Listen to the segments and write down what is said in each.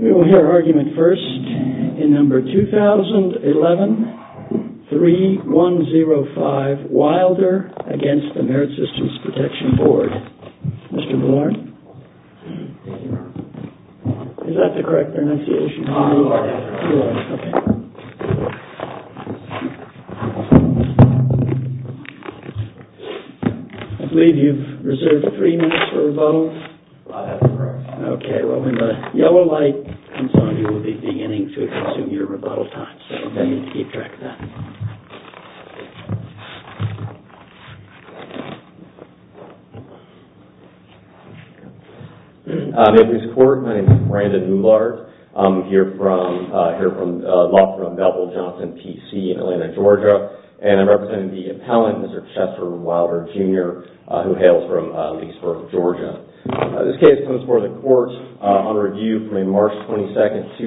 We will hear argument first in No. 2011-3105 Wilder v. MSPB. Mr. Bullard? Is that the correct pronunciation? I believe you've reserved three minutes for rebuttal. Okay. Well, when the yellow light comes on, you will be beginning to assume your rebuttal time, so you need to keep track of that. May I please record? My name is Brandon Bullard. I'm here from, law firm Beville Johnson, P.C. in Atlanta, Georgia, and I'm representing the appellant, Mr. Chester Wilder, Jr., who hails from Leesburg, Georgia. This case comes before the court on review from a March 22,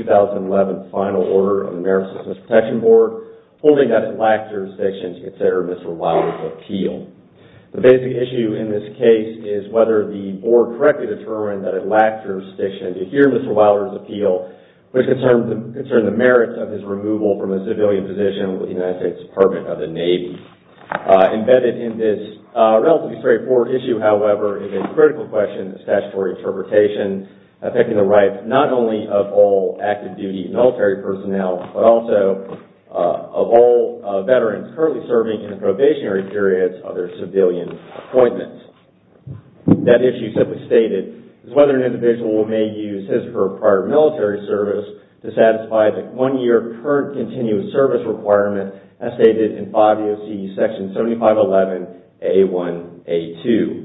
2011, final order of the Merit Systems Protection Board holding that it lacked jurisdiction to consider Mr. Wilder's appeal. The basic issue in this case is whether the board correctly determined that it lacked jurisdiction to hear Mr. Wilder's appeal, which concerned the merits of his removal from a civilian position with the United States Department of the Navy. Embedded in this relatively straightforward issue, however, is a critical question of statutory interpretation affecting the rights not only of all active duty military personnel, but also of all veterans currently serving in the probationary periods of their civilian appointments. That issue simply stated is whether an individual may use his or her prior military service to satisfy the one-year current continuous service requirement as stated in 5 U.S.C. Section 7511A1-A2.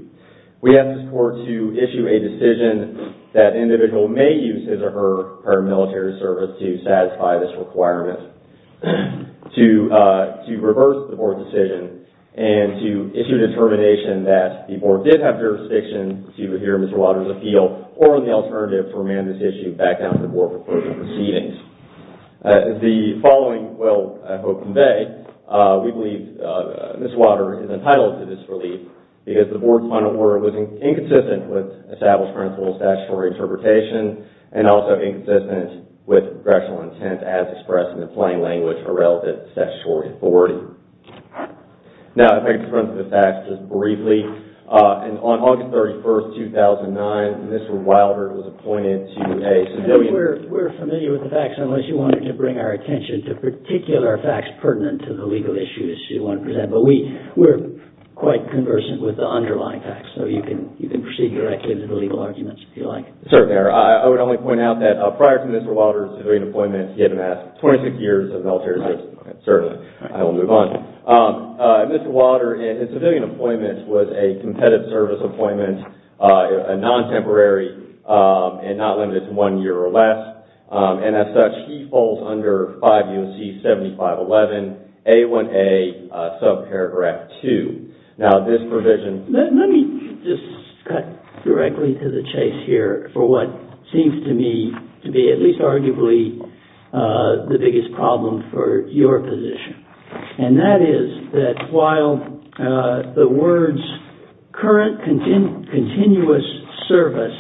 We ask this court to issue a decision that an individual may use his or her prior military service to satisfy this requirement, to reverse the board decision, and to issue a determination that the board did have jurisdiction to hear Mr. Wilder's appeal or, on the alternative, to remand this issue back down to the board for further proceedings. As the following will, I hope, convey, we believe Mr. Wilder is entitled to this relief because the board's final word was inconsistent with established principles of statutory interpretation and also inconsistent with congressional intent as expressed in the plain language for relevant statutory authority. Now, I'd like to run through the facts just briefly. On August 31, 2009, Mr. Wilder was appointed to a civilian... We're familiar with the facts, unless you wanted to bring our attention to particular facts pertinent to the legal issues you want to present, but we're quite conversant with the underlying facts, so you can proceed directly to the legal arguments if you like. Certainly. I would only point out that prior to Mr. Wilder's civilian appointment, he had been asked 26 years of military service. I will move on. Mr. Wilder, in his civilian appointment, was a competitive service appointment, a non-temporary, and not limited to one year or less. As such, he falls under 5 U.N.C. 7511A1-A2. Now, this provision... Let me just cut directly to the chase here for what seems to me to be at least arguably the biggest problem for your position. And that is that while the words current continuous service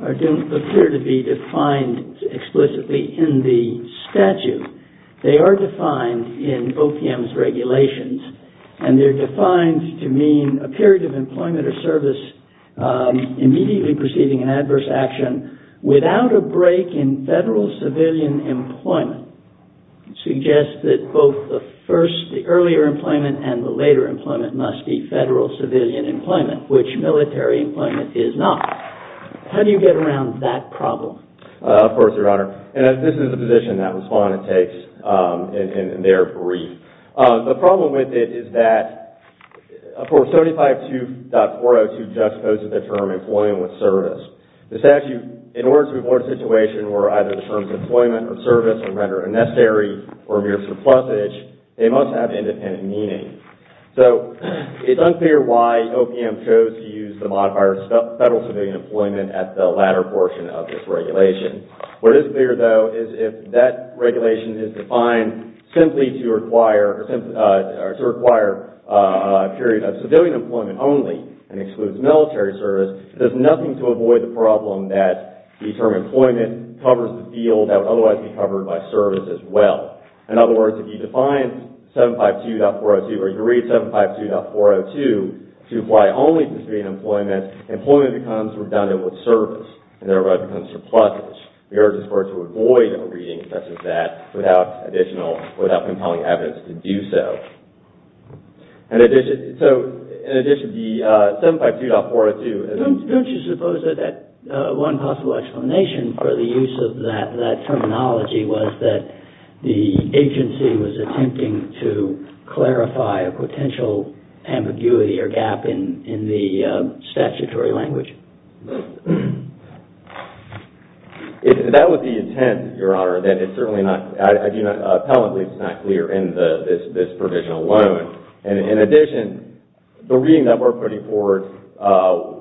appear to be defined explicitly in the statute, they are defined in OPM's regulations, and they're defined to mean a period of employment or service immediately preceding an adverse action without a break in federal civilian employment. It suggests that both the earlier employment and the later employment must be federal civilian employment, which military employment is not. How do you get around that problem? Of course, Your Honor. And this is a position that Respondent takes in their brief. The problem with it is that, of course, 752.402 juxtaposes the term employment with service. The statute, in order to avoid a situation where either the terms employment or service are rendered unnecessary or mere surplusage, they must have independent meaning. So, it's unclear why OPM chose to use the modifier federal civilian employment at the latter portion of this regulation. What is clear, though, is if that regulation is defined simply to require a period of civilian employment only and excludes military service, it does nothing to avoid the problem that the term employment covers the field that would otherwise be covered by service as well. In other words, if you define 752.402 or you read 752.402 to apply only to civilian employment, employment becomes redundant with service and thereby becomes surplusage. We are required to avoid a reading such as that without additional, without compiling evidence to do so. So, in addition, the 752.402... Don't you suppose that one possible explanation for the use of that terminology was that the agency was attempting to clarify a potential ambiguity or gap in the statutory language? That would be intent, Your Honor, that it's certainly not... I do not, appellantly, it's not clear in this provision alone. In addition, the reading that we're putting forward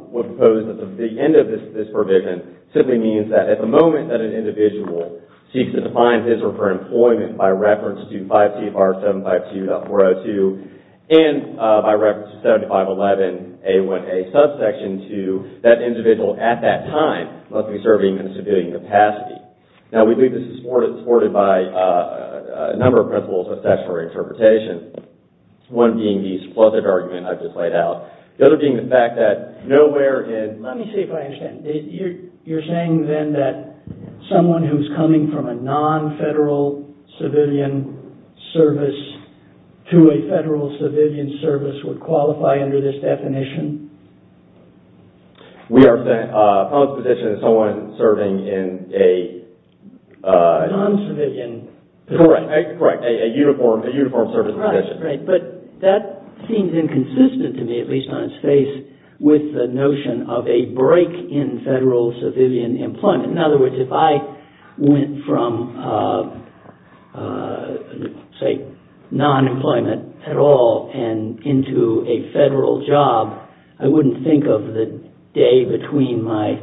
would propose that the end of this provision simply means that at the moment that an individual seeks to find his or her employment by reference to 5 CFR 752.402 and by reference to 7511A1A subsection to that individual at that time must be serving in a civilian capacity. Now, we believe this is supported by a number of principles of statutory interpretation, one being the surplusage argument I've just laid out, the other being the fact that nowhere in... A person coming from a non-federal civilian service to a federal civilian service would qualify under this definition? We are saying a public position is someone serving in a... Non-civilian position. Correct, a uniform service position. But that seems inconsistent to me, at least on its face, with the notion of a break in federal civilian employment. In other words, if I went from, say, non-employment at all and into a federal job, I wouldn't think of the day between my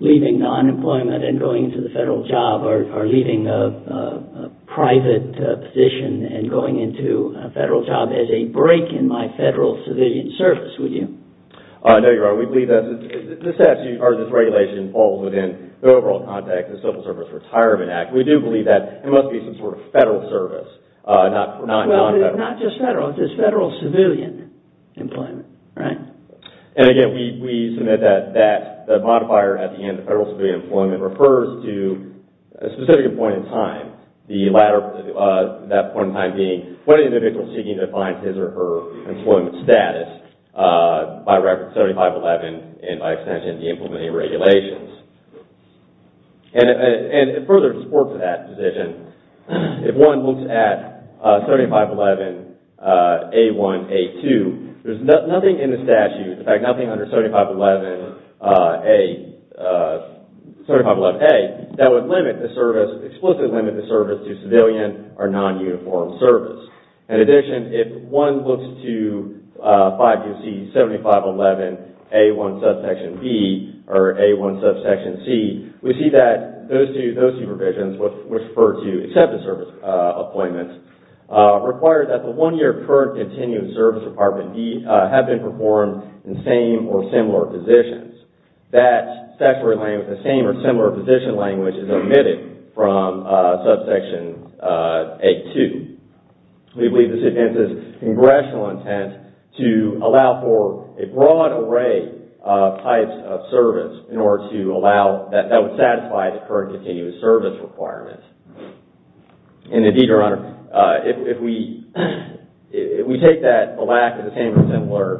leaving non-employment and going into the federal job or leaving a private position and going into a federal job as a break in my federal civilian service, would you? No, you're right. We believe that this regulation falls within the overall context of the Civil Service Retirement Act. We do believe that it must be some sort of federal service, not non-federal. Well, not just federal. It's federal civilian employment, right? And again, we submit that the modifier at the end, federal civilian employment, refers to a specific point in time, that point in time being when an individual is seeking to find his or her employment status by reference to 7511 and by extension, the implementing regulations. And it further supports that position. If one looks at 7511A1A2, there's nothing in the statute, in fact, nothing under 7511A, that would limit the service, explicitly limit the service to civilian or non-uniform service. In addition, if one looks to 5UC7511A1B or A1C, we see that those two provisions, which refer to accepted service appointments, require that the one-year current continued service department have been performed in same or similar positions. That same or similar position language is omitted from subsection A2. We believe this advances congressional intent to allow for a broad array of types of service that would satisfy the current continued service requirements. And indeed, Your Honor, if we take that lack of the same or similar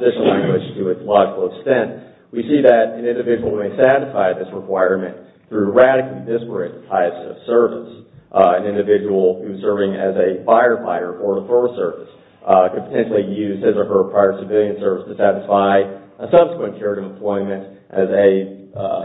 position language to its logical extent, we see that an individual who may satisfy this requirement through radically disparate types of service, an individual who's serving as a firefighter or a force service, could potentially use his or her prior civilian service to satisfy a subsequent period of employment as a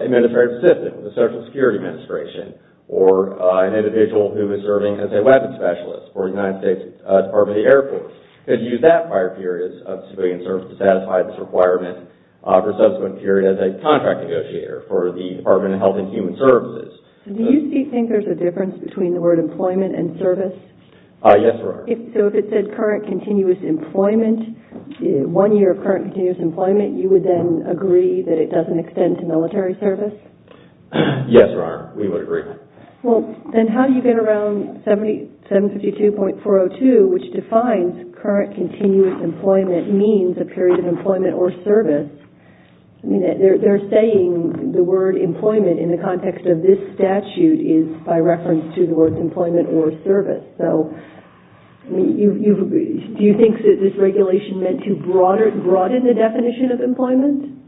administrative assistant with the Social Security Administration, or an individual who is serving as a weapons specialist for the United States Department of the Air Force, could use that prior period of civilian service to satisfy this requirement for a subsequent period as a contract negotiator for the Department of Health and Human Services. Do you think there's a difference between the word employment and service? Yes, Your Honor. So if it said current continuous employment, one year of current continuous employment, you would then agree that it doesn't extend to military service? Yes, Your Honor, we would agree. Well, then how do you get around 752.402, which defines current continuous employment means a period of employment or service? They're saying the word employment in the context of this statute is by reference to the word employment or service. So do you think that this regulation meant to broaden the definition of employment?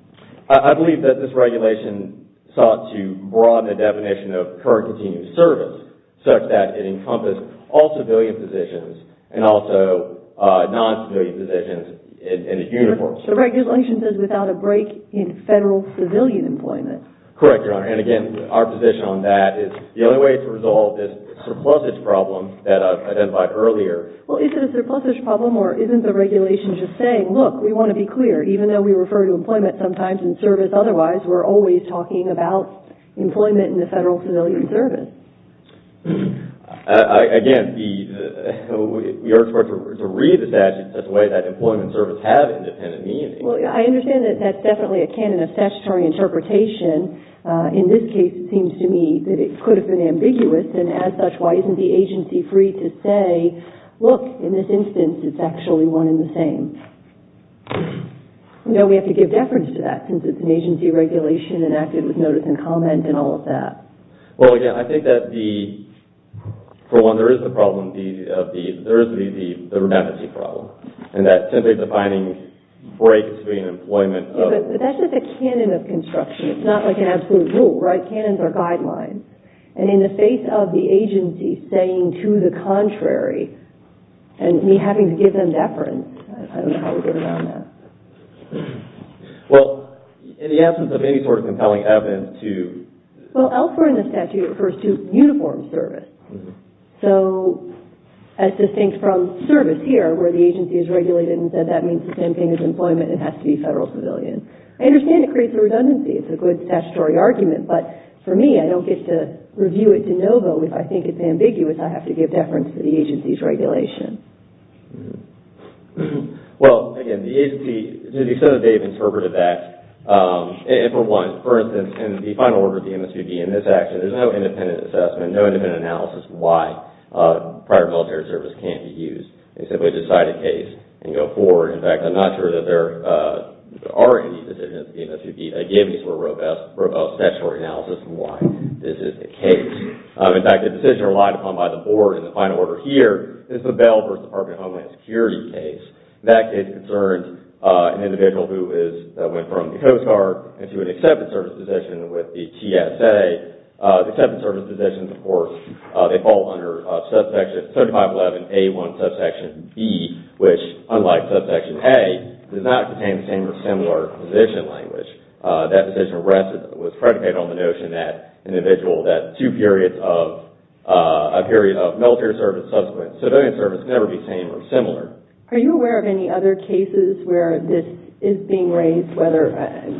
I believe that this regulation sought to broaden the definition of current continuous service such that it encompassed all civilian positions and also non-civilian positions in its uniform. The regulation says without a break in federal civilian employment. Correct, Your Honor. And again, our position on that is the only way to resolve this surplusage problem that I identified earlier. Well, is it a surplusage problem or isn't the regulation just saying, look, we want to be clear, even though we refer to employment sometimes and service otherwise, we're always talking about employment in the federal civilian service? Again, we are required to read the statute in such a way that employment and service have independent meanings. Well, I understand that that's definitely a canon of statutory interpretation. In this case, it seems to me that it could have been ambiguous, and as such, why isn't the agency free to say, look, in this instance, it's actually one and the same? You know, we have to give deference to that since it's an agency regulation enacted with notice and comment and all of that. Well, again, I think that the – for one, there is the problem of the – there is the redundancy problem, and that simply defining breaks between employment of – But that's just a canon of construction. It's not like an absolute rule, right? Canons are guidelines. And in the face of the agency saying to the contrary, and me having to give them deference, I don't know how we're going to round that. Well, in the absence of any sort of compelling evidence to – Well, elsewhere in the statute, it refers to uniformed service. So as distinct from service here, where the agency is regulated and said that means the same thing as employment and has to be federal civilian. I understand it creates a redundancy. It's a good statutory argument. But for me, I don't get to review it de novo. If I think it's ambiguous, I have to give deference to the agency's regulation. Well, again, the agency – some of the data interpreted that. And for one, for instance, in the final order of the MSVB in this action, there's no independent assessment, no independent analysis why prior military service can't be used. They simply decide a case and go forward. In fact, I'm not sure that there are any decisions of the MSVB. Again, this is a robust statutory analysis of why this is the case. In fact, the decision relied upon by the board in the final order here is the Bell versus Department of Homeland Security case. That case concerns an individual who went from the Coast Guard into an accepted service position with the TSA. The accepted service positions, of course, they fall under 7511A1 subsection B, which, unlike subsection A, does not contain the same or similar position language. That position was predicated on the notion that an individual that two periods of – a period of military service subsequent to civilian service can never be the same or similar. Are you aware of any other cases where this is being raised, whether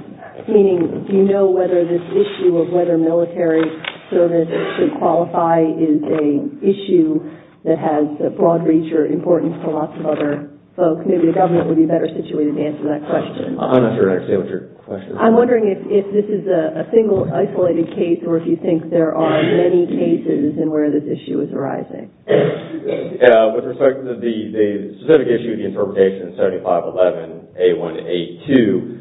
– meaning do you know whether this issue of whether military service should qualify is an issue that has a broad reach or importance for lots of other folks? Maybe the government would be better situated to answer that question. I'm not sure I understand what your question is. I'm wondering if this is a single isolated case or if you think there are many cases in where this issue is arising. With respect to the specific issue of the interpretation of 7511A1A2,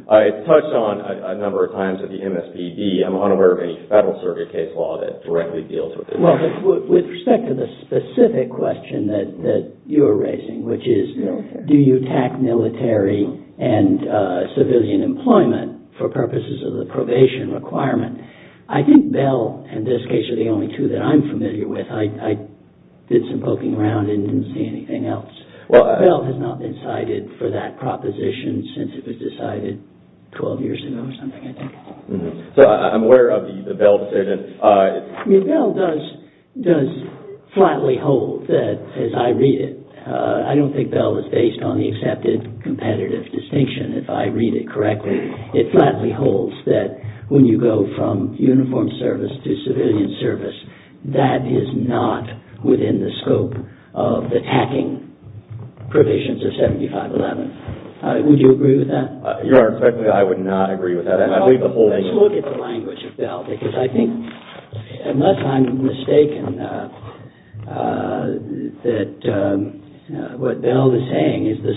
I touched on a number of times at the MSVB. I'm unaware of any federal circuit case law that directly deals with it. Well, with respect to the specific question that you are raising, which is do you attack military and civilian employment for purposes of the probation requirement, I think Bell, in this case, are the only two that I'm familiar with. I did some poking around and didn't see anything else. Bell has not been cited for that proposition since it was decided 12 years ago or something, I think. So I'm aware of the Bell decision. I mean, Bell does flatly hold that, as I read it, I don't think Bell is based on the accepted competitive distinction. If I read it correctly, it flatly holds that when you go from uniformed service to civilian service, that is not within the scope of attacking provisions of 7511. Would you agree with that? Your Honor, frankly, I would not agree with that. Let's look at the language of Bell, because I think, unless I'm mistaken, that what Bell is saying is the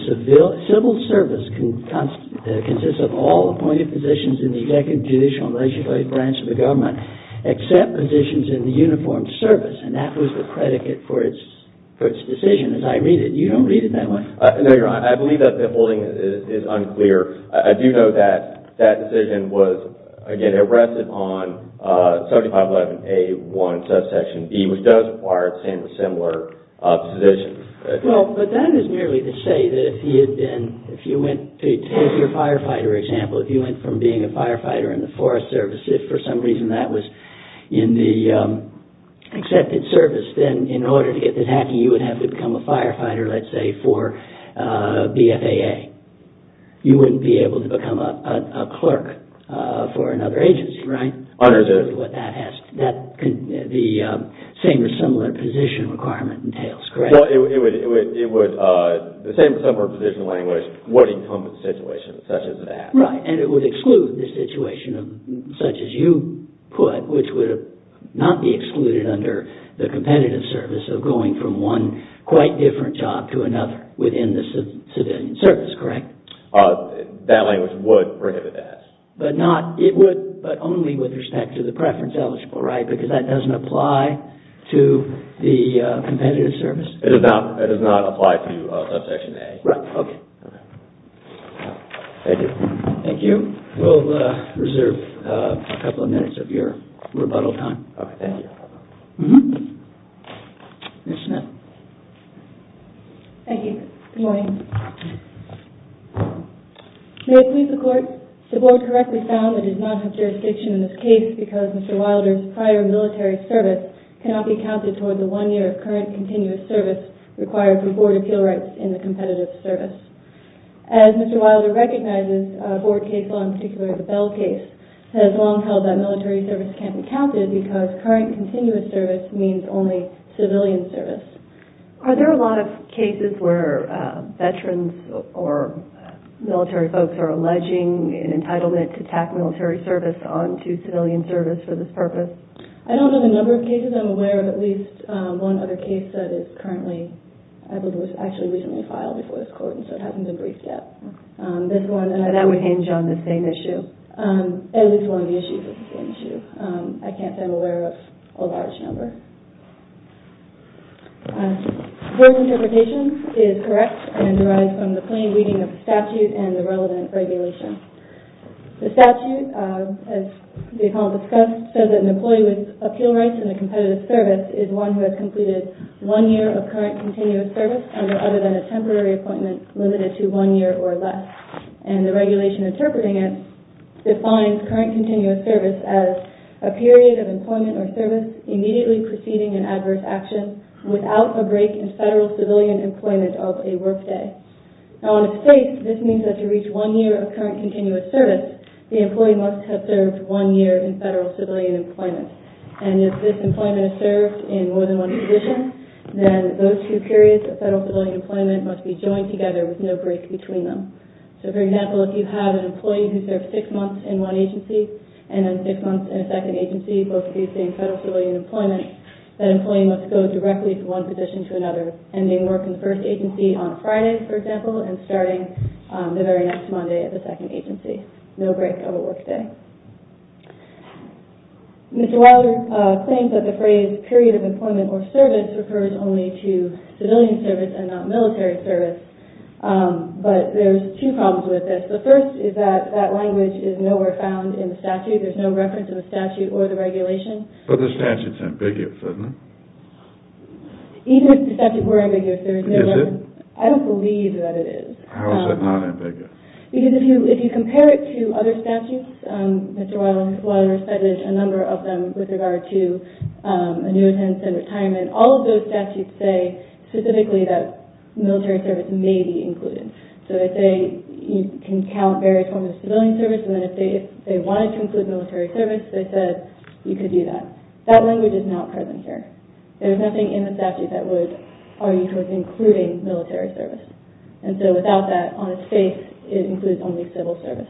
civil service consists of all appointed positions in the executive, judicial, and legislative branch of the government except positions in the uniformed service, and that was the predicate for its decision, as I read it. You don't read it that way. No, Your Honor. I believe that the holding is unclear. I do know that that decision was, again, arrested on 7511A1 subsection B, which does require the same or similar positions. Well, but that is merely to say that if you went to take your firefighter example, if you went from being a firefighter in the Forest Service, if for some reason that was in the accepted service, then in order to get to attacking, you would have to become a firefighter, let's say, for BFAA. You wouldn't be able to become a clerk for another agency, right? Understood. That's what that has to do. The same or similar position requirement entails, correct? Well, it would, the same or similar position language would encompass situations such as that. Right, and it would exclude the situation such as you put, which would not be excluded under the competitive service of going from one quite different job to another within the civilian service, correct? That language would prohibit that. But not, it would, but only with respect to the preference eligible, right? Because that doesn't apply to the competitive service. It does not apply to subsection A. Right, okay. Thank you. Thank you. We'll reserve a couple of minutes of your rebuttal time. Okay, thank you. Ms. Smith. Thank you. Good morning. May it please the Court, the Board correctly found that it does not have jurisdiction in this case because Mr. Wilder's prior military service cannot be counted toward the one year of current continuous service required for Board appeal rights in the competitive service. As Mr. Wilder recognizes, Board case law, in particular the Bell case, has long held that military service can't be counted because current continuous service means only civilian service. Are there a lot of cases where veterans or military folks are alleging an entitlement to attack military service onto civilian service for this purpose? I don't know the number of cases. I'm aware of at least one other case that is currently, I believe it was actually recently filed before this Court, and so it hasn't been briefed yet. That would hinge on the same issue. At least one of the issues is the same issue. I can't say I'm aware of a large number. His interpretation is correct and derives from the plain reading of the statute and the relevant regulation. The statute, as the Appellant discussed, says that an employee with appeal rights in the competitive service is one who has completed one year of current continuous service other than a temporary appointment limited to one year or less. And the regulation interpreting it defines current continuous service as a period of employment or service immediately preceding an adverse action without a break in federal civilian employment of a work day. Now, in a state, this means that to reach one year of current continuous service, the employee must have served one year in federal civilian employment. And if this employment is served in more than one position, then those two periods of federal civilian employment must be joined together with no break between them. So, for example, if you have an employee who served six months in one agency and then six months in a second agency, both of these being federal civilian employment, that employee must go directly from one position to another, ending work in the first agency on Friday, for example, and starting the very next Monday at the second agency. No break of a work day. Mr. Wilder claims that the phrase period of employment or service refers only to civilian service and not military service. But there's two problems with this. The first is that that language is nowhere found in the statute. There's no reference in the statute or the regulation. But the statute's ambiguous, isn't it? Even if the statute were ambiguous, there's no reference. Is it? I don't believe that it is. How is it not ambiguous? Because if you compare it to other statutes, Mr. Wilder cited a number of them with regard to annuitants and retirement, all of those statutes say specifically that military service may be included. So they say you can count various forms of civilian service, and then if they wanted to include military service, they said you could do that. That language is not present here. There's nothing in the statute that would argue it was including military service. And so without that, on its face, it includes only civil service.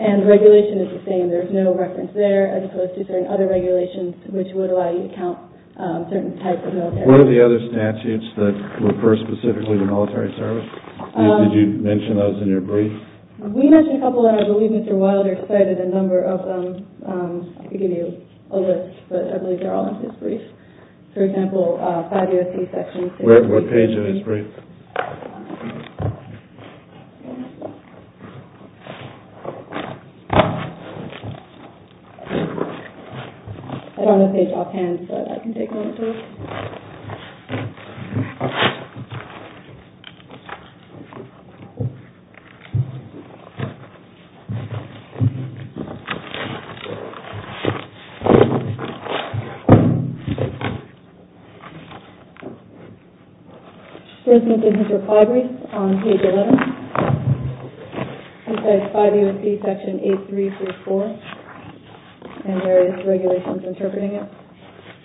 And the regulation is the same. There's no reference there as opposed to certain other regulations which would allow you to count certain types of military service. What are the other statutes that refer specifically to military service? Did you mention those in your brief? We mentioned a couple, and I believe Mr. Wilder cited a number of them. I could give you a list, but I believe they're all in his brief. For example, 5 U.S.C. section. What page of his brief? I don't have the page offhand, but I can take a moment to look. Okay. This is his brief on page 11. He says 5 U.S.C. section 8334, and there is regulations interpreting it.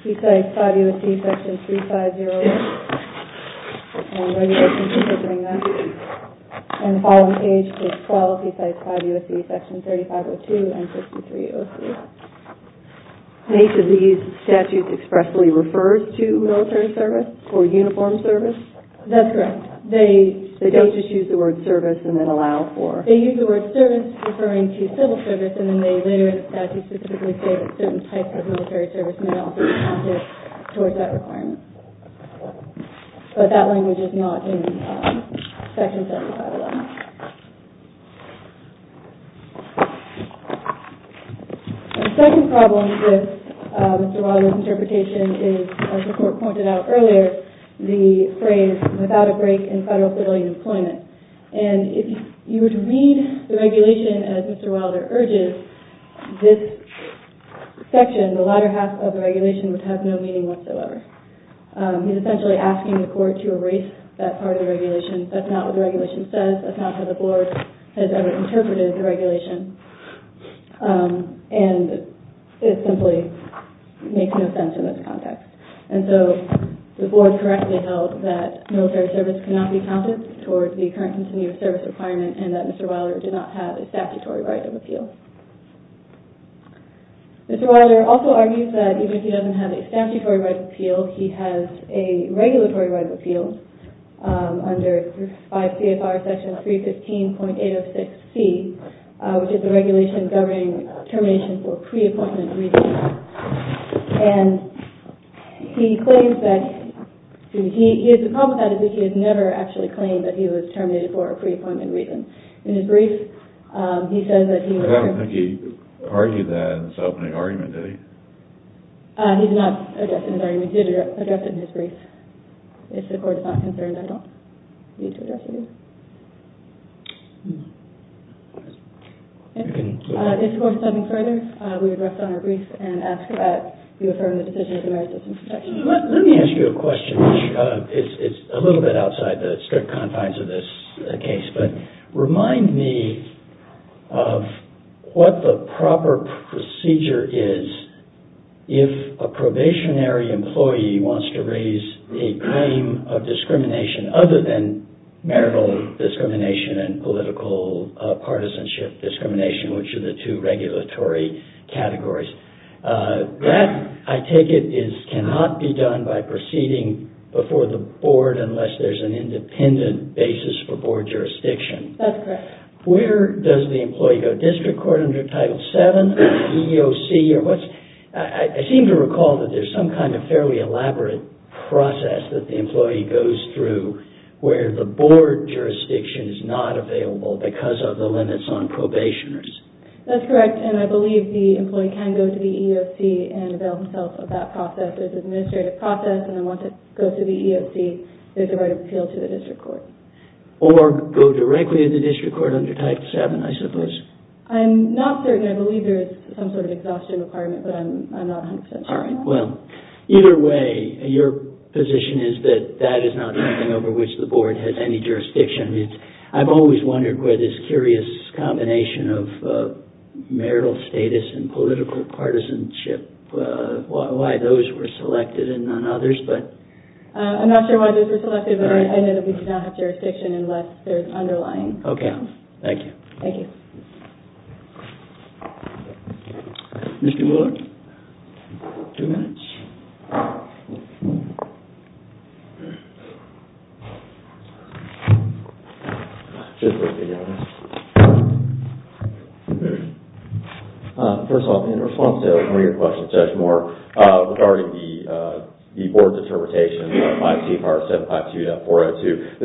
He says 5 U.S.C. section 3501, and regulations interpreting that. And the following page is 12. He cites 5 U.S.C. section 3502 and 6303. And each of these statutes expressly refers to military service or uniformed service? That's correct. They don't just use the word service and then allow for? They use the word service referring to civil service, and then they later in the statute specifically say that certain types of military service may also be counted towards that requirement. But that language is not in section 351. The second problem with Mr. Wilder's interpretation is, as the Court pointed out earlier, the phrase, without a break in federal civilian employment. And if you would read the regulation as Mr. Wilder urges, this section, the latter half of the regulation, would have no meaning whatsoever. He's essentially asking the Court to erase that part of the regulation. That's not what the regulation says. That's not how the Board has ever interpreted the regulation. And it simply makes no sense in this context. And so the Board correctly held that military service cannot be counted towards the current continued service requirement and that Mr. Wilder did not have a statutory right of appeal. Mr. Wilder also argues that even if he doesn't have a statutory right of appeal, he has a regulatory right of appeal under 5 CFR section 315.806C, which is the regulation governing termination for pre-appointment reasons. And he claims that, The problem with that is that he has never actually claimed that he was terminated for a pre-appointment reason. In his brief, he says that he was- I don't think he argued that in his opening argument, did he? He did not address it in his argument. He did address it in his brief. If the Court is not concerned, I don't need to address it either. If the Court is something further, we would rest on our brief and ask that you affirm the decision of the Merit System Protection Act. Let me ask you a question. It's a little bit outside the strict confines of this case, but remind me of what the proper procedure is if a probationary employee wants to raise a claim of discrimination other than marital discrimination and political partisanship discrimination, which are the two regulatory categories. That, I take it, cannot be done by proceeding before the Board unless there's an independent basis for Board jurisdiction. That's correct. Where does the employee go? District Court under Title VII? EEOC? I seem to recall that there's some kind of fairly elaborate process that the employee goes through where the Board jurisdiction is not available because of the limits on probationers. That's correct, and I believe the employee can go to the EEOC and avail himself of that process. There's an administrative process, and then once it goes to the EEOC, there's a right of appeal to the District Court. Or go directly to the District Court under Title VII, I suppose. I'm not certain. I believe there is some sort of exhaustion requirement, but I'm not 100% sure. All right. Well, either way, your position is that that is not something over which the Board has any jurisdiction. I've always wondered where this curious combination of marital status and political partisanship, why those were selected and none others, but... I'm not sure why those were selected, but I know that we do not have jurisdiction unless there's underlying... Okay. Thank you. Thank you. Mr. Willard? Two minutes. First of all, in response to one of your questions, Judge Moore, regarding the Board's interpretation of 5 CFR 752.402,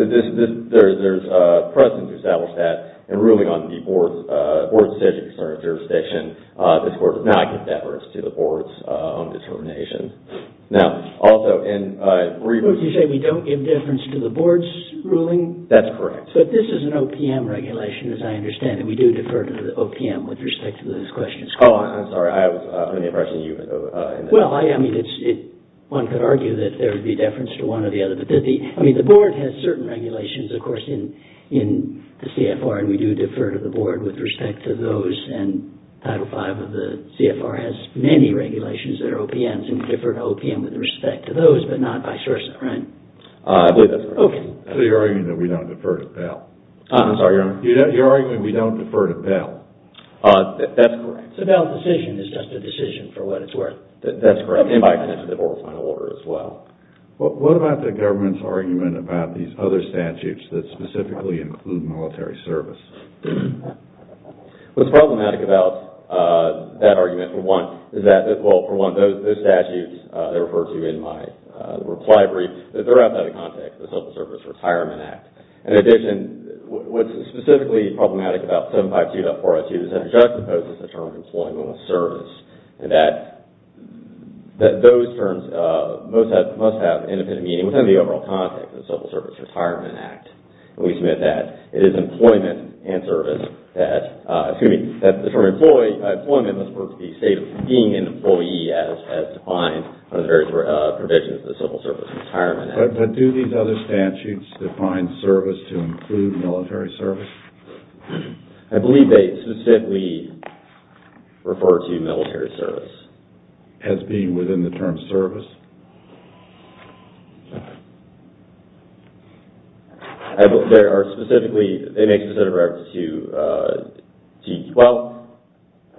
there's precedent to establish that in ruling on the Board's decision concerning jurisdiction. This Court does not give that risk to the Board's own determination. Now, also in... What did you say? We don't give deference to the Board's ruling? That's correct. But this is an OPM regulation, as I understand it. We do defer to the OPM with respect to those questions. Oh, I'm sorry. I was putting the impression that you... Well, I mean, it's... One could argue that there would be deference to one or the other. I mean, the Board has certain regulations, of course, in the CFR, and we do defer to the Board with respect to those, and Title V of the CFR has many regulations that are OPMs and defer to OPM with respect to those, but not vice versa, right? I believe that's correct. Okay. So you're arguing that we don't defer to Bell? I'm sorry, Your Honor? You're arguing we don't defer to Bell? That's correct. So Bell's decision is just a decision for what it's worth? That's correct, and by extension of the Board's final order as well. What about the government's argument about these other statutes that specifically include military service? What's problematic about that argument, for one, is that... Well, for one, those statutes that are referred to in my reply brief, they're outside of the context of the Civil Service Retirement Act. In addition, what's specifically problematic about 752.402 is that it juxtaposes the term employment with service, and that those terms must have independent meaning within the overall context of the Civil Service Retirement Act. We submit that it is employment and service that... Excuse me, that the term employment must refer to the state of being an employee as defined under the various provisions of the Civil Service Retirement Act. But do these other statutes define service to include military service? I believe they specifically refer to military service. As being within the term service? They make specific reference to... Well,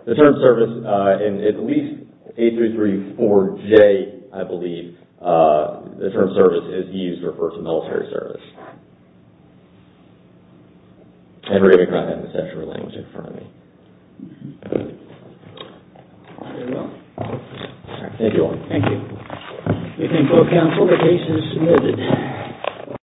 the term service, in at least 8334J, I believe, the term service is used to refer to military service. And we're going to go ahead and assess your language in front of me. Very well. Thank you, Owen. Thank you. Meeting closed, counsel. The case is submitted.